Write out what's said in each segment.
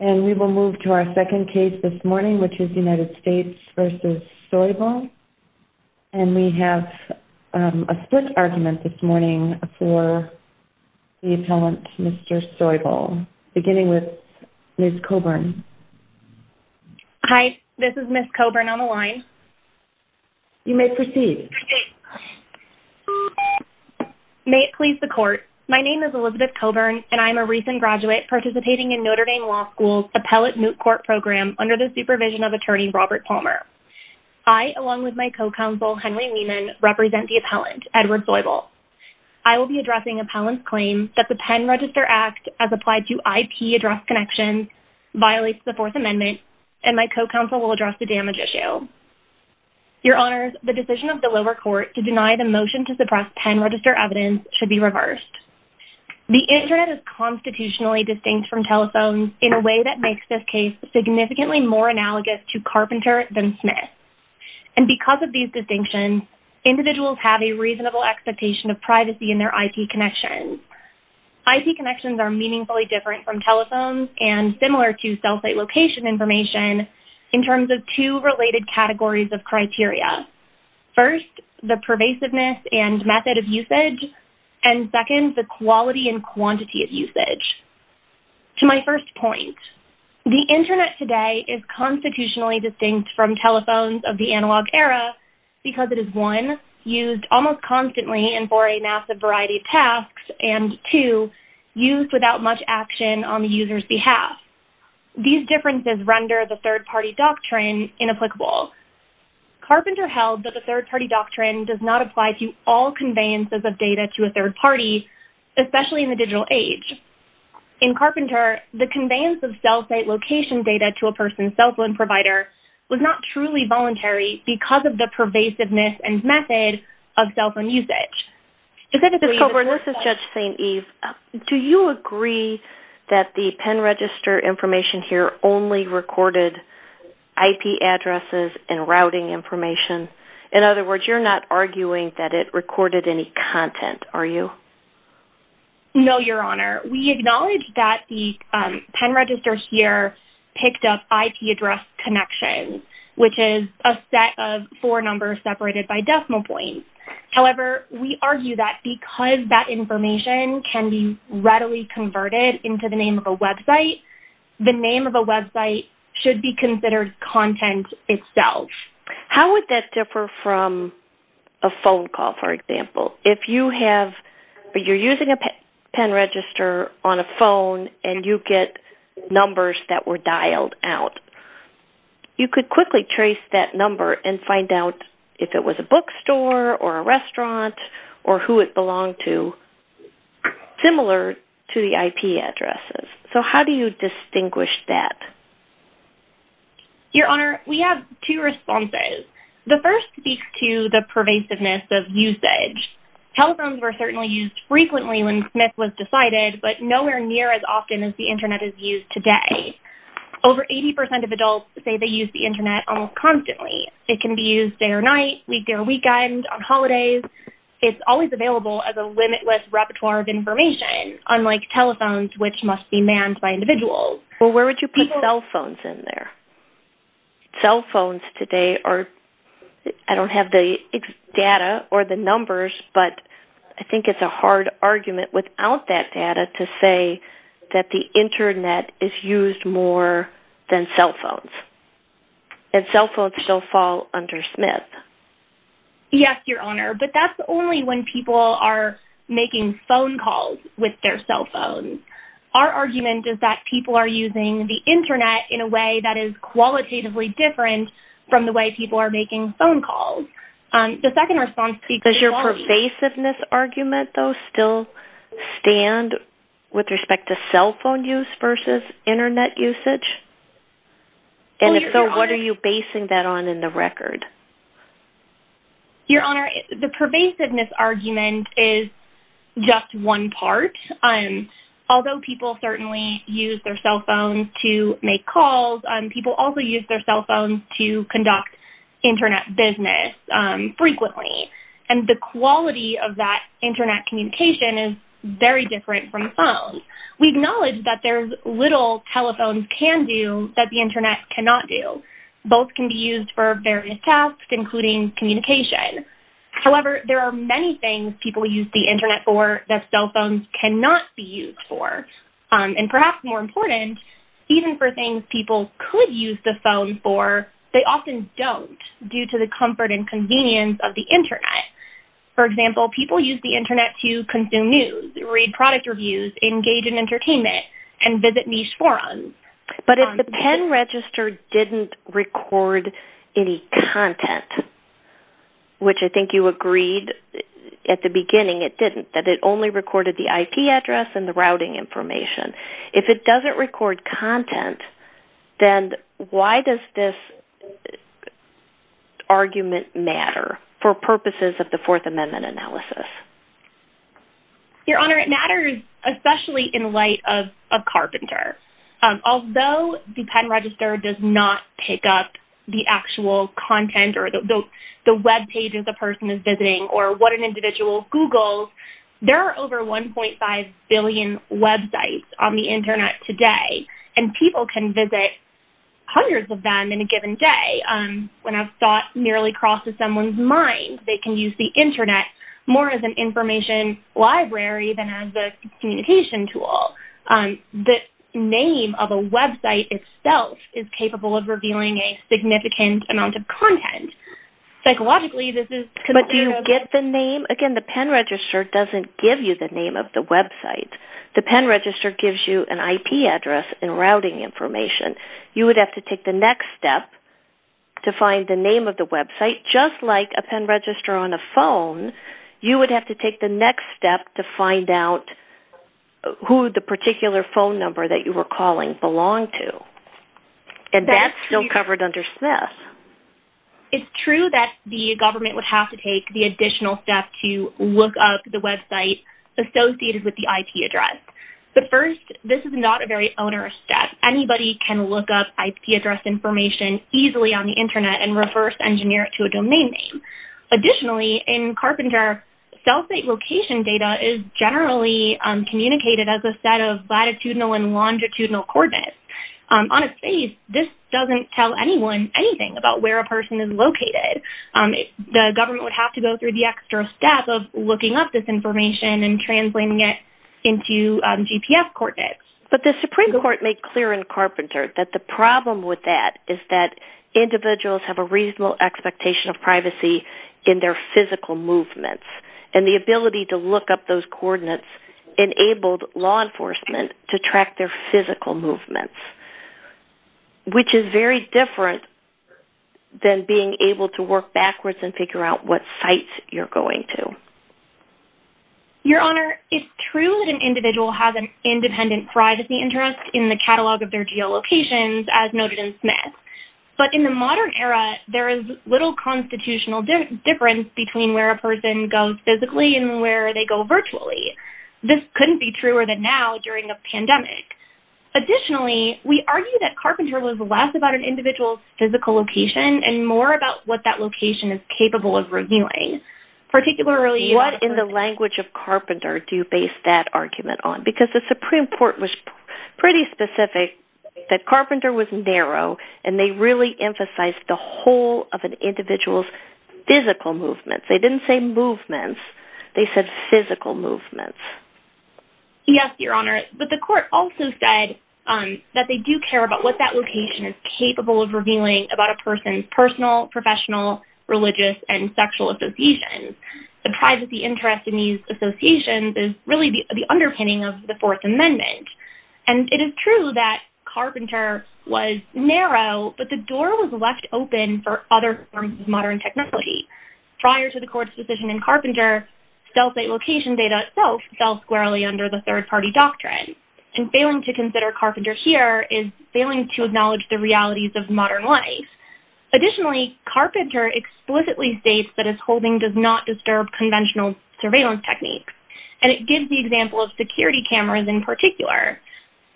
And we will move to our second case this morning, which is United States v. Soybel. And we have a split argument this morning for the appellant, Mr. Soybel. Beginning with Ms. Coburn. Hi, this is Ms. Coburn on the line. You may proceed. May it please the court. My name is Elizabeth Coburn, and I am a recent graduate participating in Notre Dame Law School's appellate moot court program under the supervision of Attorney Robert Palmer. I, along with my co-counsel, Henry Wieman, represent the appellant, Edward Soybel. I will be addressing appellant's claim that the Penn Register Act, as applied to IP address connections, violates the Fourth Amendment, and my co-counsel will address the damage issue. Your Honors, the decision of the lower court to deny the motion to suppress Penn Register evidence should be reversed. The Internet is constitutionally distinct from telephones in a way that makes this case significantly more analogous to Carpenter than Smith. And because of these distinctions, individuals have a reasonable expectation of privacy in their IP connections. IP connections are meaningfully different from telephones and similar to cell site location information in terms of two related categories of criteria. First, the pervasiveness and method of usage. And second, the quality and quantity of usage. To my first point, the Internet today is constitutionally distinct from telephones of the analog era because it is, one, used almost constantly and for a massive variety of tasks, and two, used without much action on the user's behalf. These differences render the third party doctrine inapplicable. Carpenter held that the third party doctrine does not apply to all conveyances of data to a third party, especially in the digital age. In Carpenter, the conveyance of cell site location data to a person's cell phone provider was not truly voluntary because of the pervasiveness and method of cell phone usage. Judge St. Eve, do you agree that the Penn Register information here only recorded IP addresses and routing information? In other words, you're not arguing that it recorded any content, are you? No, Your Honor. We acknowledge that the Penn Register here picked up IP address connections, which is a set of four numbers separated by decimal points. However, we argue that because that information can be readily converted into the name of a website, the name of a website should be considered content itself. How would that differ from a phone call, for example? If you're using a Penn Register on a phone and you get numbers that were dialed out, you could quickly trace that number and find out if it was a bookstore or a restaurant or who it belonged to, similar to the IP addresses. So how do you distinguish that? Your Honor, we have two responses. The first speaks to the pervasiveness of usage. Telephones were certainly used frequently when Smith was decided, but nowhere near as often as the Internet is used today. Over 80% of adults say they use the Internet almost constantly. It can be used day or night, weekday or weekend, on holidays. It's always available as a limitless repertoire of information, unlike telephones, which must be manned by individuals. Well, where would you put cell phones in there? Cell phones today are – I don't have the data or the numbers, but I think it's a hard argument without that data to say that the Internet is used more than cell phones. And cell phones still fall under Smith. Yes, Your Honor, but that's only when people are making phone calls with their cell phones. Our argument is that people are using the Internet in a way that is qualitatively different from the way people are making phone calls. Does your pervasiveness argument, though, still stand with respect to cell phone use versus Internet usage? And if so, what are you basing that on in the record? Your Honor, the pervasiveness argument is just one part. Although people certainly use their cell phones to make calls, people also use their cell phones to conduct Internet business frequently. And the quality of that Internet communication is very different from phones. We acknowledge that there's little telephones can do that the Internet cannot do. Both can be used for various tasks, including communication. However, there are many things people use the Internet for that cell phones cannot be used for. And perhaps more important, even for things people could use the phone for, they often don't due to the comfort and convenience of the Internet. For example, people use the Internet to consume news, read product reviews, engage in entertainment, and visit niche forums. But if the pen register didn't record any content, which I think you agreed at the beginning it didn't, that it only recorded the IP address and the routing information, if it doesn't record content, then why does this argument matter for purposes of the Fourth Amendment analysis? Your Honor, it matters especially in light of Carpenter. Although the pen register does not pick up the actual content or the webpages a person is visiting or what an individual Googles, there are over 1.5 billion websites on the Internet today. And people can visit hundreds of them in a given day. When a thought nearly crosses someone's mind, they can use the Internet more as an information library than as a communication tool. The name of a website itself is capable of revealing a significant amount of content. Psychologically, this is... But do you get the name? Again, the pen register doesn't give you the name of the website. The pen register gives you an IP address and routing information. You would have to take the next step to find the name of the website. Just like a pen register on a phone, you would have to take the next step to find out who the particular phone number that you were calling belonged to. And that's still covered under Smith. It's true that the government would have to take the additional step to look up the website associated with the IP address. But first, this is not a very onerous step. Anybody can look up IP address information easily on the Internet and reverse engineer it to a domain name. Additionally, in Carpenter, cell site location data is generally communicated as a set of latitudinal and longitudinal coordinates. On a space, this doesn't tell anyone anything about where a person is located. The government would have to go through the extra step of looking up this information and translating it into GPS coordinates. But the Supreme Court made clear in Carpenter that the problem with that is that individuals have a reasonable expectation of privacy in their physical movements. And the ability to look up those coordinates enabled law enforcement to track their physical movements. Which is very different than being able to work backwards and figure out what sites you're going to. Your Honor, it's true that an individual has an independent privacy interest in the catalog of their geolocations as noted in Smith. But in the modern era, there is little constitutional difference between where a person goes physically and where they go virtually. This couldn't be truer than now during a pandemic. Additionally, we argue that Carpenter was less about an individual's physical location and more about what that location is capable of reviewing. What in the language of Carpenter do you base that argument on? Because the Supreme Court was pretty specific that Carpenter was narrow and they really emphasized the whole of an individual's physical movements. They didn't say movements, they said physical movements. Yes, Your Honor. But the court also said that they do care about what that location is capable of reviewing about a person's personal, professional, religious, and sexual associations. The privacy interest in these associations is really the underpinning of the Fourth Amendment. And it is true that Carpenter was narrow, but the door was left open for other forms of modern technology. Prior to the court's decision in Carpenter, cell site location data itself fell squarely under the third-party doctrine. And failing to consider Carpenter here is failing to acknowledge the realities of modern life. Additionally, Carpenter explicitly states that his holding does not disturb conventional surveillance techniques. And it gives the example of security cameras in particular.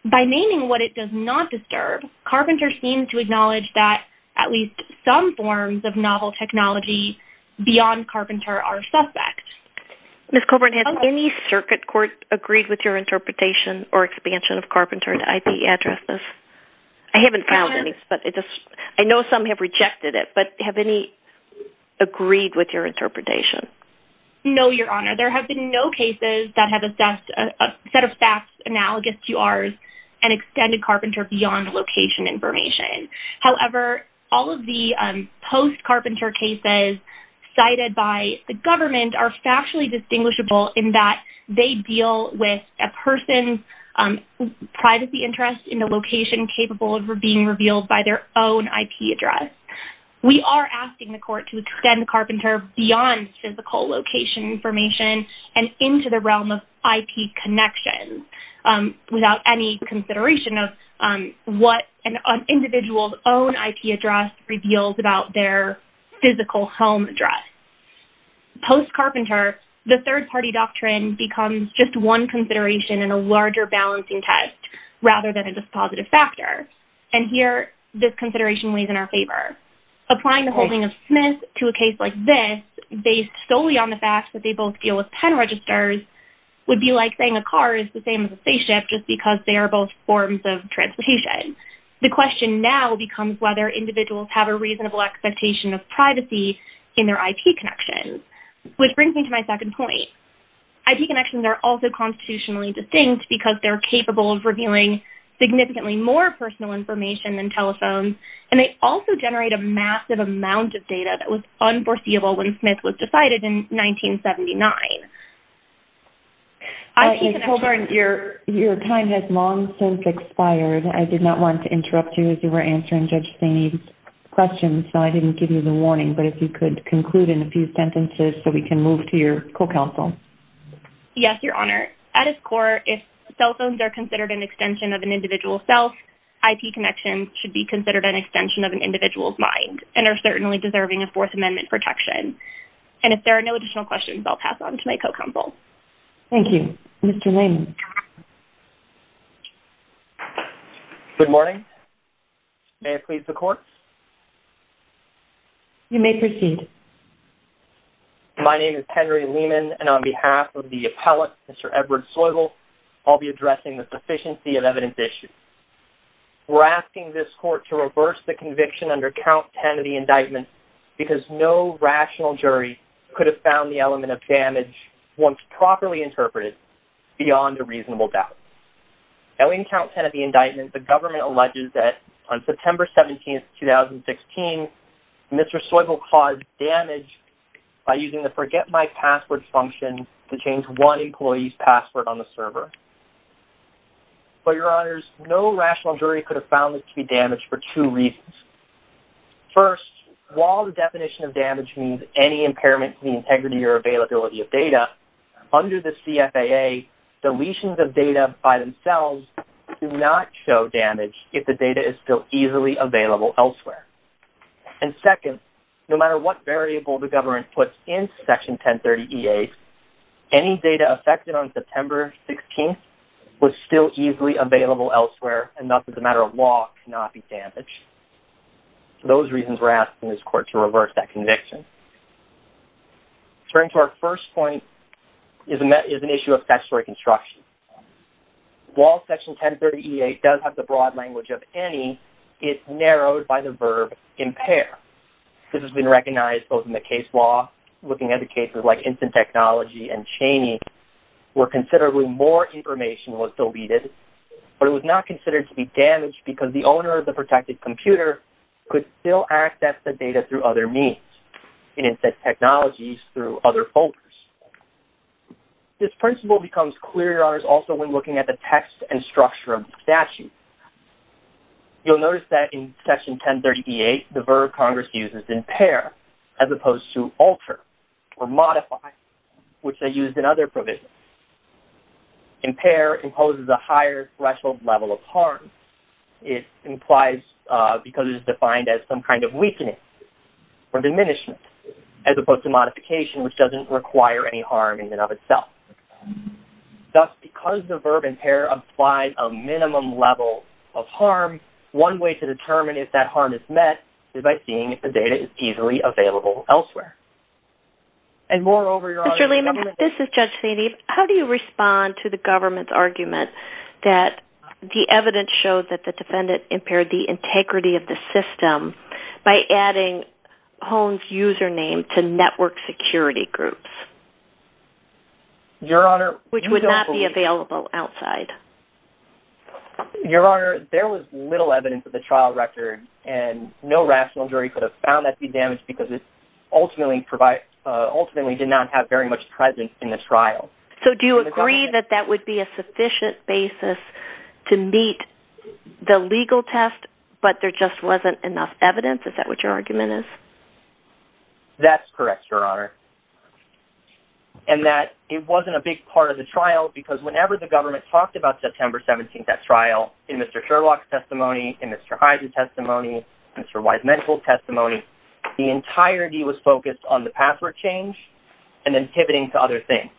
By naming what it does not disturb, Carpenter seems to acknowledge that at least some forms of novel technology beyond Carpenter are suspect. Ms. Coburn, has any circuit court agreed with your interpretation or expansion of Carpenter's IP addresses? I haven't found any, but I know some have rejected it, but have any agreed with your interpretation? No, Your Honor. There have been no cases that have assessed a set of facts analogous to ours and extended Carpenter beyond location information. However, all of the post-Carpenter cases cited by the government are factually distinguishable in that they deal with a person's privacy interest in a location capable of being revealed by their own IP address. We are asking the court to extend Carpenter beyond physical location information and into the realm of IP connections without any consideration of what an individual's own IP address reveals about their physical home address. Post-Carpenter, the third-party doctrine becomes just one consideration in a larger balancing test rather than a dispositive factor. And here, this consideration weighs in our favor. Applying the holding of Smith to a case like this based solely on the fact that they both deal with pen registers would be like saying a car is the same as a spaceship just because they are both forms of transportation. The question now becomes whether individuals have a reasonable expectation of privacy in their IP connections, which brings me to my second point. IP connections are also constitutionally distinct because they are capable of revealing significantly more personal information than telephones. And they also generate a massive amount of data that was unforeseeable when Smith was decided in 1979. Your time has long since expired. I did not want to interrupt you as you were answering Judge Staney's questions, so I didn't give you the warning. But if you could conclude in a few sentences so we can move to your co-counsel. Yes, Your Honor. At its core, if cell phones are considered an extension of an individual's self, IP connections should be considered an extension of an individual's mind and are certainly deserving of Fourth Amendment protection. And if there are no additional questions, I'll pass on to my co-counsel. Thank you. Mr. Lehman. Good morning. May I please the court? You may proceed. My name is Henry Lehman, and on behalf of the appellate, Mr. Edward Soygill, I'll be addressing the sufficiency of evidence issued. We're asking this court to reverse the conviction under Count 10 of the indictment because no rational jury could have found the element of damage, once properly interpreted, beyond a reasonable doubt. Now, in Count 10 of the indictment, the government alleges that on September 17, 2016, Mr. Soygill caused damage by using the Forget My Password function to change one employee's password on the server. For your honors, no rational jury could have found this to be damage for two reasons. First, while the definition of damage means any impairment to the integrity or availability of data, under the CFAA, deletions of data by themselves do not show damage if the data is still easily available elsewhere. And second, no matter what variable the government puts in Section 1030E8, any data affected on September 16th was still easily available elsewhere, and thus, as a matter of law, cannot be damaged. For those reasons, we're asking this court to reverse that conviction. Turning to our first point is an issue of statutory construction. While Section 1030E8 does have the broad language of any, it's narrowed by the verb impair. This has been recognized both in the case law, looking at the cases like Instant Technology and Cheney, where considerably more information was deleted, but it was not considered to be damaged because the owner of the protected computer could still access the data through other means, in Instant Technologies, through other folders. This principle becomes clearer also when looking at the text and structure of the statute. You'll notice that in Section 1030E8, the verb Congress uses, impair, as opposed to alter or modify, which they used in other provisions. Impair imposes a higher threshold level of harm. It implies because it is defined as some kind of weakness or diminishment, as opposed to modification, which doesn't require any harm in and of itself. Thus, because the verb impair applies a minimum level of harm, one way to determine if that harm is met is by seeing if the data is easily available elsewhere. Moreover, Your Honor, the government... Mr. Lehman, this is Judge Sandy. How do you respond to the government's argument that the evidence showed that the defendant impaired the integrity of the system by adding Hone's username to network security groups? Your Honor, you don't believe... Which would not be available outside. Your Honor, there was little evidence of the trial record, and no rational jury could have found that to be damaged because it ultimately did not have very much presence in the trial. So do you agree that that would be a sufficient basis to meet the legal test, but there just wasn't enough evidence? Is that what your argument is? That's correct, Your Honor. And that it wasn't a big part of the trial because whenever the government talked about September 17th, that trial, in Mr. Sherlock's testimony, in Mr. Hyde's testimony, in Mr. Weisman's testimony, the entirety was focused on the password change and then pivoting to other things.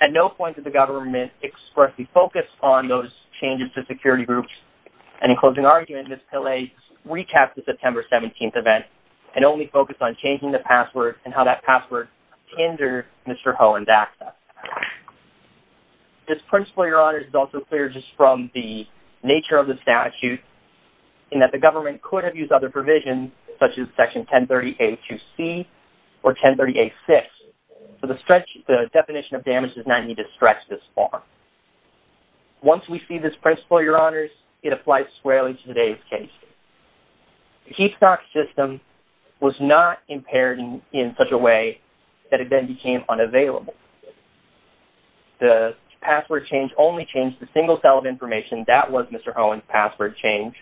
At no point did the government expressly focus on those changes to security groups, and in closing argument, Ms. Pillay recapped the September 17th event and only focused on changing the password and how that password hindered Mr. Hone's access. This principle, Your Honor, is also clear just from the nature of the statute in that the government could have used other provisions such as Section 1030-A2C or 1030-A6. The definition of damage does not need to stretch this far. Once we see this principle, Your Honors, it applies squarely to today's case. The Heapstock system was not impaired in such a way that it then became unavailable. The password change only changed the single cell of information. That was Mr. Hone's password change.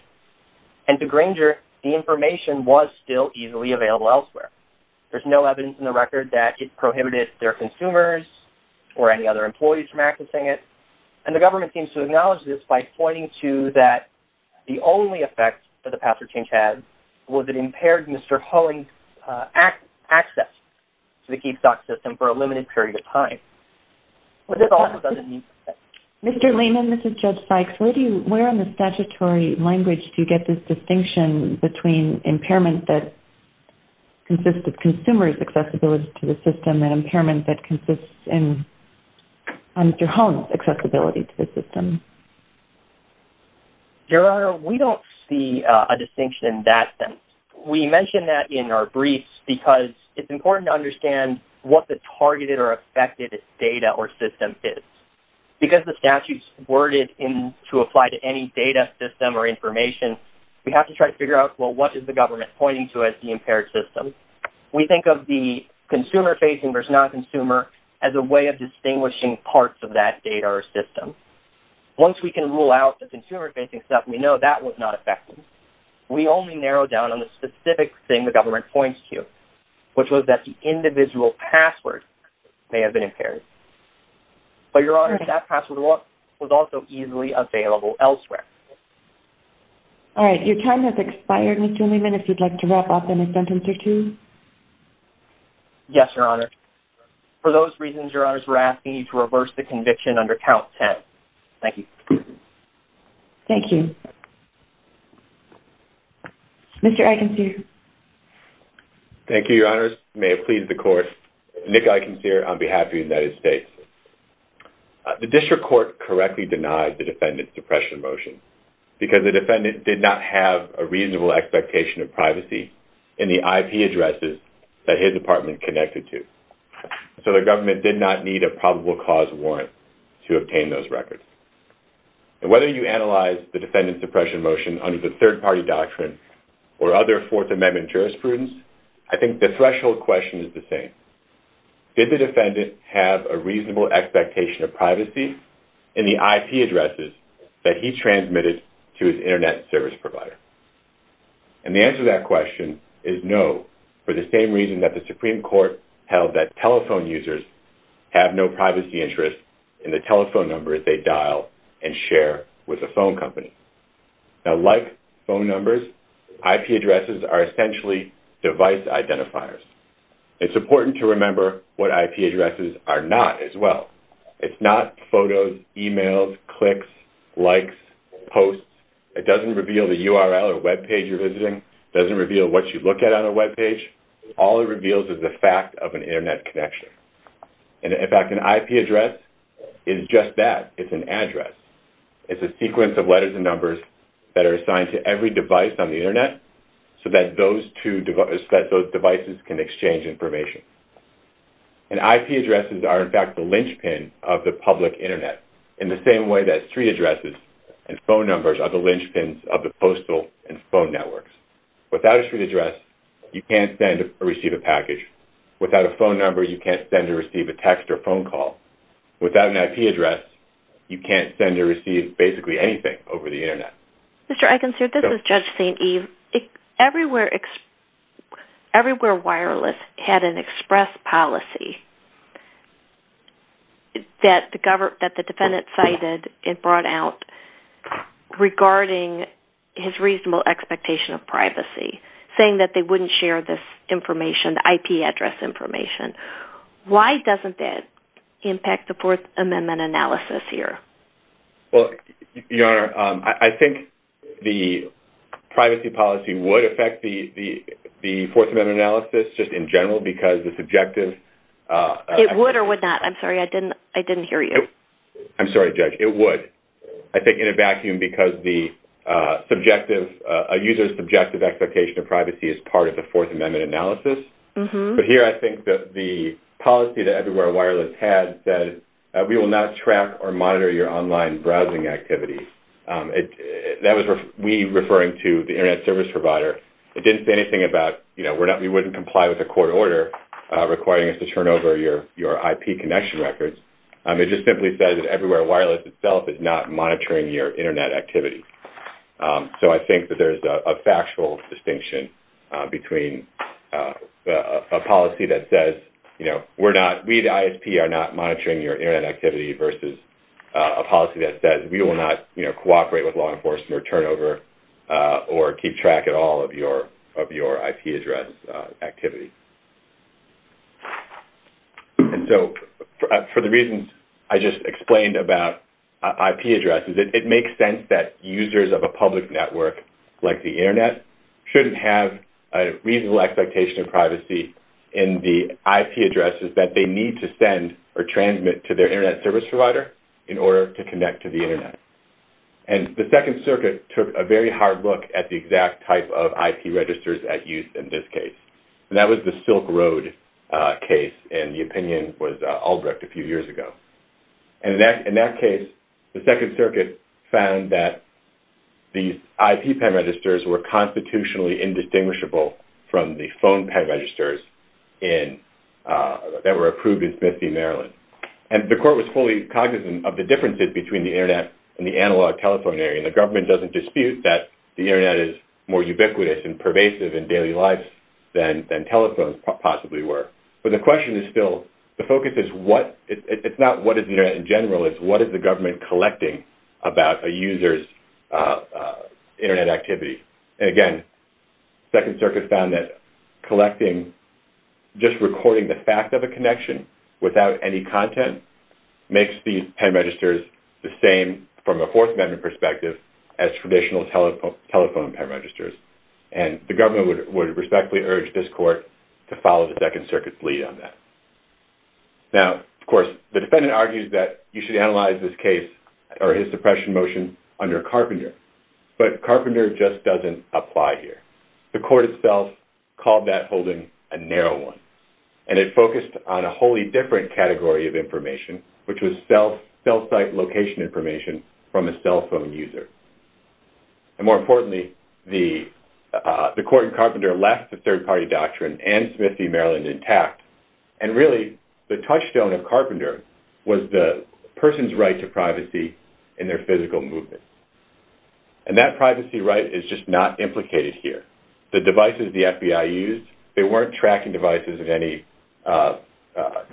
And to Granger, the information was still easily available elsewhere. There's no evidence in the record that it prohibited their consumers or any other employees from accessing it. And the government seems to acknowledge this by pointing to that the only effect that the password change had was it impaired Mr. Hone's access to the Heapstock system for a limited period of time. Mr. Lehman, Mr. Judge Sykes, where on the statutory language do you get this distinction between impairment that consists of consumers' accessibility to the system and impairment that consists of Mr. Hone's accessibility to the system? Your Honor, we don't see a distinction in that sense. We mention that in our briefs because it's important to understand what the targeted or affected data or system is. Because the statute's worded to apply to any data system or information, we have to try to figure out, well, what is the government pointing to as the impaired system? We think of the consumer-facing versus non-consumer as a way of distinguishing parts of that data or system. Once we can rule out the consumer-facing stuff, we know that was not effective. We only narrow down on the specific thing the government points to, which was that the individual password may have been impaired. But, Your Honor, that password was also easily available elsewhere. All right. Your time has expired, Mr. Lehman, if you'd like to wrap up in a sentence or two. Yes, Your Honor. For those reasons, Your Honors, we're asking you to reverse the conviction under count 10. Thank you. Thank you. Mr. Eikensear. Thank you, Your Honors. May it please the Court, Nick Eikensear on behalf of the United States. The District Court correctly denied the defendant's suppression motion because the defendant did not have a reasonable expectation of privacy in the IP addresses that his apartment connected to. So the government did not need a probable cause warrant to obtain those records. And whether you analyze the defendant's suppression motion under the third-party doctrine or other Fourth Amendment jurisprudence, I think the threshold question is the same. Did the defendant have a reasonable expectation of privacy in the IP addresses that he transmitted to his Internet service provider? And the answer to that question is no, for the same reason that the Supreme Court held that telephone users have no privacy interest in the telephone numbers they dial and share with a phone company. Now, like phone numbers, IP addresses are essentially device identifiers. It's important to remember what IP addresses are not as well. It's not photos, emails, clicks, likes, posts. It doesn't reveal the URL or webpage you're visiting. It doesn't reveal what you look at on a webpage. All it reveals is the fact of an Internet connection. And, in fact, an IP address is just that. It's an address. It's a sequence of letters and numbers that are assigned to every device on the Internet so that those devices can exchange information. And IP addresses are, in fact, the linchpin of the public Internet in the same way that street addresses and phone numbers are the linchpins of the postal and phone networks. Without a street address, you can't send or receive a package. Without a phone number, you can't send or receive a text or phone call. Without an IP address, you can't send or receive basically anything over the Internet. Mr. Eikens, this is Judge St. Eve. Everywhere Wireless had an express policy that the defendant cited and brought out regarding his reasonable expectation of privacy, saying that they wouldn't share this information, the IP address information. Why doesn't that impact the Fourth Amendment analysis here? Well, Your Honor, I think the privacy policy would affect the Fourth Amendment analysis just in general because the subjective… It would or would not? I'm sorry. I didn't hear you. I'm sorry, Judge. It would. I think in a vacuum because the user's subjective expectation of privacy is part of the Fourth Amendment analysis. But here I think the policy that Everywhere Wireless had said, we will not track or monitor your online browsing activity. That was we referring to the Internet service provider. It didn't say anything about, you know, we wouldn't comply with a court order requiring us to turn over your IP connection records. It just simply said that Everywhere Wireless itself is not monitoring your Internet activity. So I think that there's a factual distinction between a policy that says, you know, we're not… We at ISP are not monitoring your Internet activity versus a policy that says we will not, you know, cooperate with law enforcement or turn over or keep track at all of your IP address activity. And so for the reasons I just explained about IP addresses, it makes sense that users of a public network like the Internet shouldn't have a reasonable expectation of privacy in the IP addresses that they need to send or transmit to their Internet service provider in order to connect to the Internet. And the Second Circuit took a very hard look at the exact type of IP registers at use in this case. And that was the Silk Road case, and the opinion was Albrecht a few years ago. And in that case, the Second Circuit found that the IP pad registers were constitutionally indistinguishable from the phone pad registers that were approved in Smith v. Maryland. And the court was fully cognizant of the differences between the Internet and the analog telephone area. And the government doesn't dispute that the Internet is more ubiquitous and pervasive in daily lives than telephones possibly were. But the question is still… the focus is what… it's not what is the Internet in general, it's what is the government collecting about a user's Internet activity. And again, the Second Circuit found that collecting… just recording the fact of a connection without any content makes the pad registers the same from a Fourth Amendment perspective as traditional telephone pad registers. And the government would respectfully urge this court to follow the Second Circuit's lead on that. Now, of course, the defendant argues that you should analyze this case or his suppression motion under Carpenter. But Carpenter just doesn't apply here. The court itself called that holding a narrow one. And it focused on a wholly different category of information, which was cell site location information from a cell phone user. And more importantly, the court in Carpenter left the third party doctrine and Smith v. Maryland intact. And really, the touchstone of Carpenter was the person's right to privacy in their physical movement. And that privacy right is just not implicated here. The devices the FBI used, they weren't tracking devices of any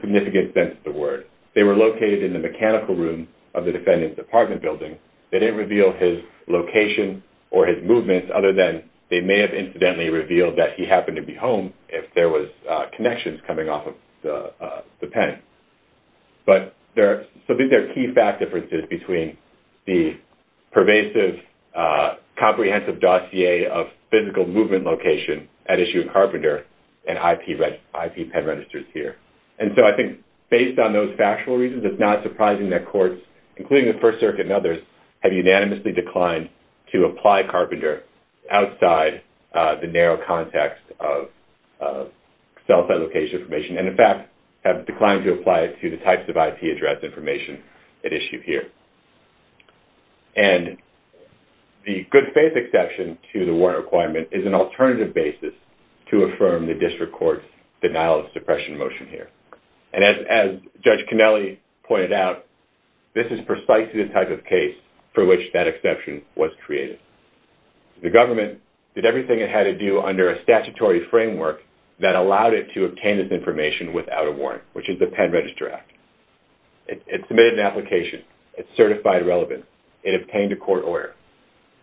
significant sense of the word. They were located in the mechanical room of the defendant's apartment building. They didn't reveal his location or his movements other than they may have incidentally revealed that he happened to be home if there was connections coming off of the pen. So these are key fact differences between the pervasive, comprehensive dossier of physical movement location at issue in Carpenter and IP pen registers here. And so I think based on those factual reasons, it's not surprising that courts, including the First Circuit and others, have unanimously declined to apply Carpenter outside the narrow context of cell site location information. And in fact, have declined to apply it to the types of IP address information at issue here. And the good faith exception to the warrant requirement is an alternative basis to affirm the district court's denial of suppression motion here. And as Judge Kennelly pointed out, this is precisely the type of case for which that exception was created. The government did everything it had to do under a statutory framework that allowed it to obtain this information without a warrant, which is the Pen Register Act. It submitted an application. It certified relevance. It obtained a court order.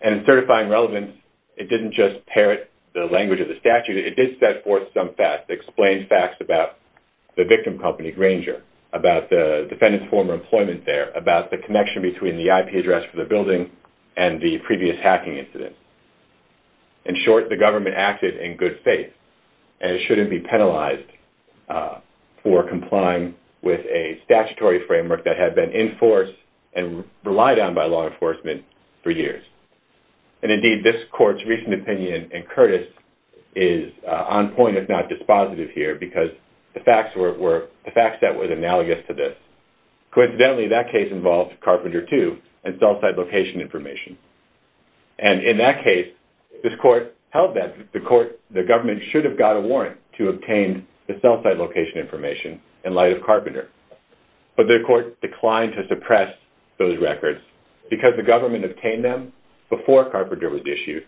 And in certifying relevance, it didn't just parrot the language of the statute. It did set forth some facts, explain facts about the victim company, Granger, about the defendant's former employment there, about the connection between the IP address for the building and the previous hacking incident. In short, the government acted in good faith. And it shouldn't be penalized for complying with a statutory framework that had been in force and relied on by law enforcement for years. And indeed, this court's recent opinion in Curtis is on point, if not dispositive here, because the facts that were analogous to this. Coincidentally, that case involved Carpenter, too, and cell site location information. And in that case, this court held that the government should have got a warrant to obtain the cell site location information in light of Carpenter. But the court declined to suppress those records because the government obtained them before Carpenter was issued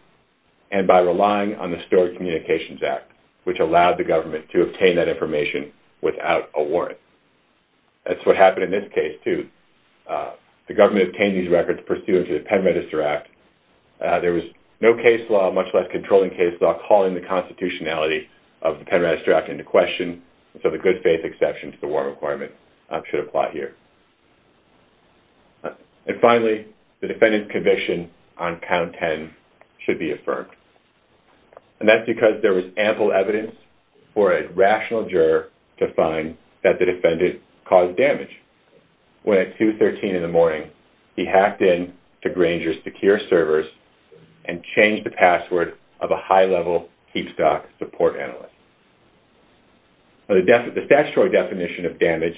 and by relying on the Stored Communications Act, which allowed the government to obtain that information without a warrant. That's what happened in this case, too. The government obtained these records pursuant to the Pen Register Act. There was no case law, much less controlling case law, calling the constitutionality of the Pen Register Act into question. So the good faith exception to the warrant requirement should apply here. And finally, the defendant's conviction on count 10 should be affirmed. And that's because there was ample evidence for a rational juror to find that the defendant caused damage. When at 2.13 in the morning, he hacked into Grainger's secure servers and changed the password of a high-level Keepstock support analyst. The statutory definition of damage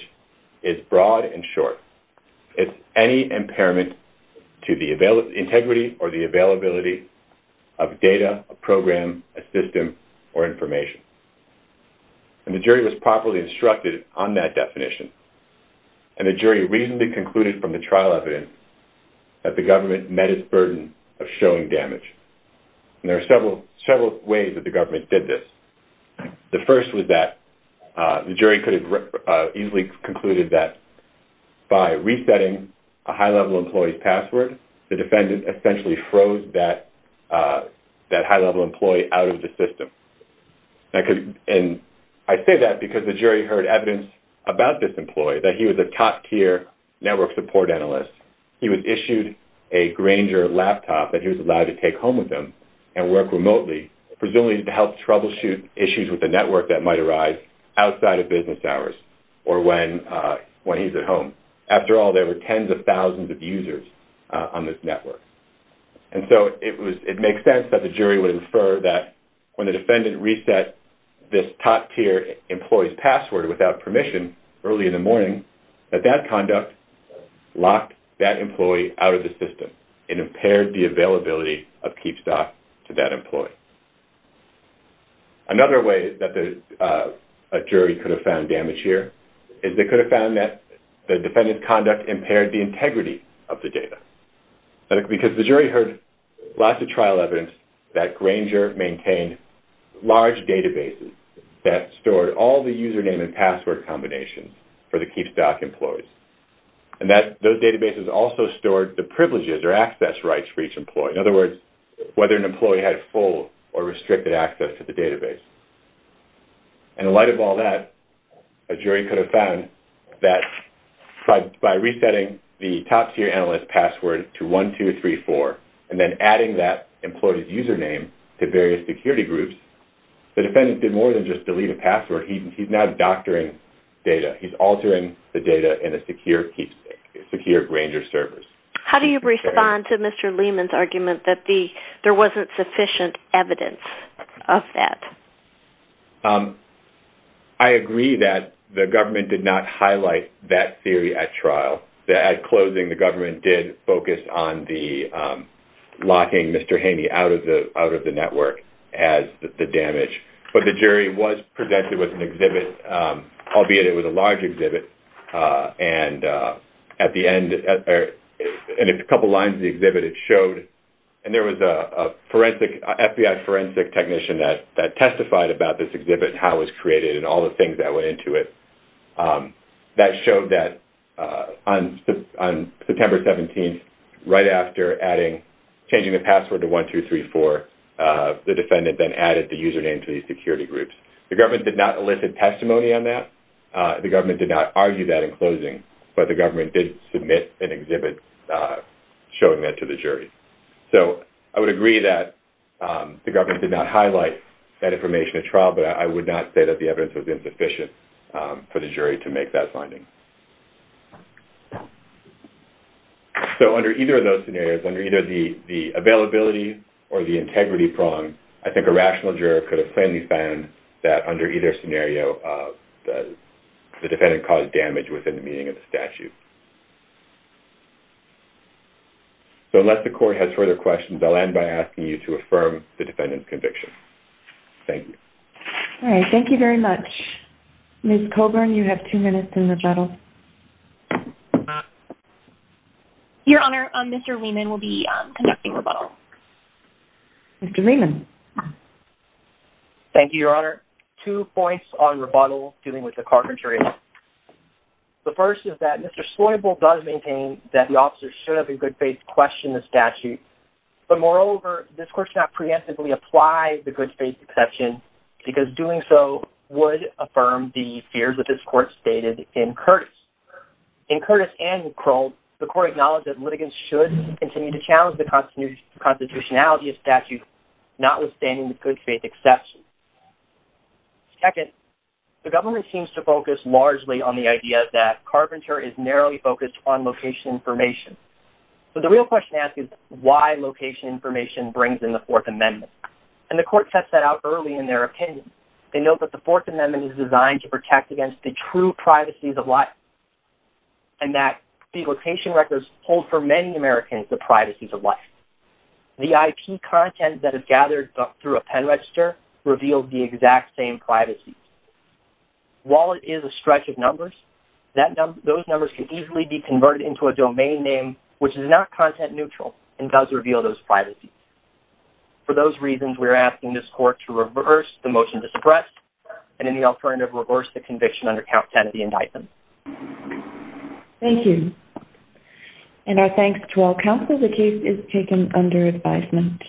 is broad and short. It's any impairment to the integrity or the availability of data, a program, a system, or information. And the jury was properly instructed on that definition. And the jury reasonably concluded from the trial evidence that the government met its burden of showing damage. And there are several ways that the government did this. The first was that the jury could have easily concluded that by resetting a high-level employee's password, the defendant essentially froze that high-level employee out of the system. And I say that because the jury heard evidence about this employee, that he was a top-tier network support analyst. He was issued a Grainger laptop that he was allowed to take home with him and work remotely, presumably to help troubleshoot issues with the network that might arise outside of business hours or when he's at home. After all, there were tens of thousands of users on this network. And so it makes sense that the jury would infer that when the defendant reset this top-tier employee's password without permission early in the morning, that that conduct locked that employee out of the system. It impaired the availability of Keepstock to that employee. Another way that a jury could have found damage here is they could have found that the defendant's conduct impaired the integrity of the data. Because the jury heard lots of trial evidence that Grainger maintained large databases that stored all the username and password combinations for the Keepstock employees. And those databases also stored the privileges or access rights for each employee. In other words, whether an employee had full or restricted access to the database. And in light of all that, a jury could have found that by resetting the top-tier analyst's password to 1234 and then adding that employee's username to various security groups, the defendant did more than just delete a password. He's now doctoring data. He's altering the data in a secure Keepstock, secure Grainger servers. How do you respond to Mr. Lehman's argument that there wasn't sufficient evidence of that? I agree that the government did not highlight that theory at trial. At closing, the government did focus on the locking Mr. Haney out of the network as the damage. But the jury was presented with an exhibit, albeit it was a large exhibit. And at the end, in a couple lines of the exhibit, it showed, and there was a forensic, FBI forensic technician that testified about this exhibit and how it was created and all the things that went into it, that showed that on September 17th, right after adding, changing the password to 1234, the defendant then added the username to these security groups. The government did not elicit testimony on that. The government did not argue that in closing, but the government did submit an exhibit showing that to the jury. So I would agree that the government did not highlight that information at trial, but I would not say that the evidence was insufficient for the jury to make that finding. So under either of those scenarios, under either the availability or the integrity prong, I think a rational juror could have plainly found that under either scenario, the defendant caused damage within the meaning of the statute. So unless the court has further questions, I'll end by asking you to affirm the defendant's conviction. Thank you. All right, thank you very much. Ms. Colburn, you have two minutes in rebuttal. Your Honor, Mr. Lehman will be conducting rebuttal. Mr. Lehman. Thank you, Your Honor. Two points on rebuttal dealing with the carpentry. The first is that Mr. Sloybal does maintain that the officer should have in good faith questioned the statute, but moreover, this court should not preemptively apply the good faith exception, because doing so would affirm the fears that this court stated in Curtis. In Curtis and Krull, the court acknowledged that litigants should continue to challenge the constitutionality of statutes, notwithstanding the good faith exception. Second, the government seems to focus largely on the idea that carpentry is narrowly focused on location information. But the real question to ask is, why location information brings in the Fourth Amendment? And the court sets that out early in their opinion. They note that the Fourth Amendment is designed to protect against the true privacies of life, and that the location records hold for many Americans the privacies of life. The IP content that is gathered through a pen register reveals the exact same privacies. While it is a stretch of numbers, those numbers can easily be converted into a domain name which is not content-neutral and does reveal those privacies. For those reasons, we are asking this court to reverse the motion to suppress, and in the alternative, reverse the conviction under count 10 of the indictment. Thank you. And our thanks to all counsel. The case is taken under advisement.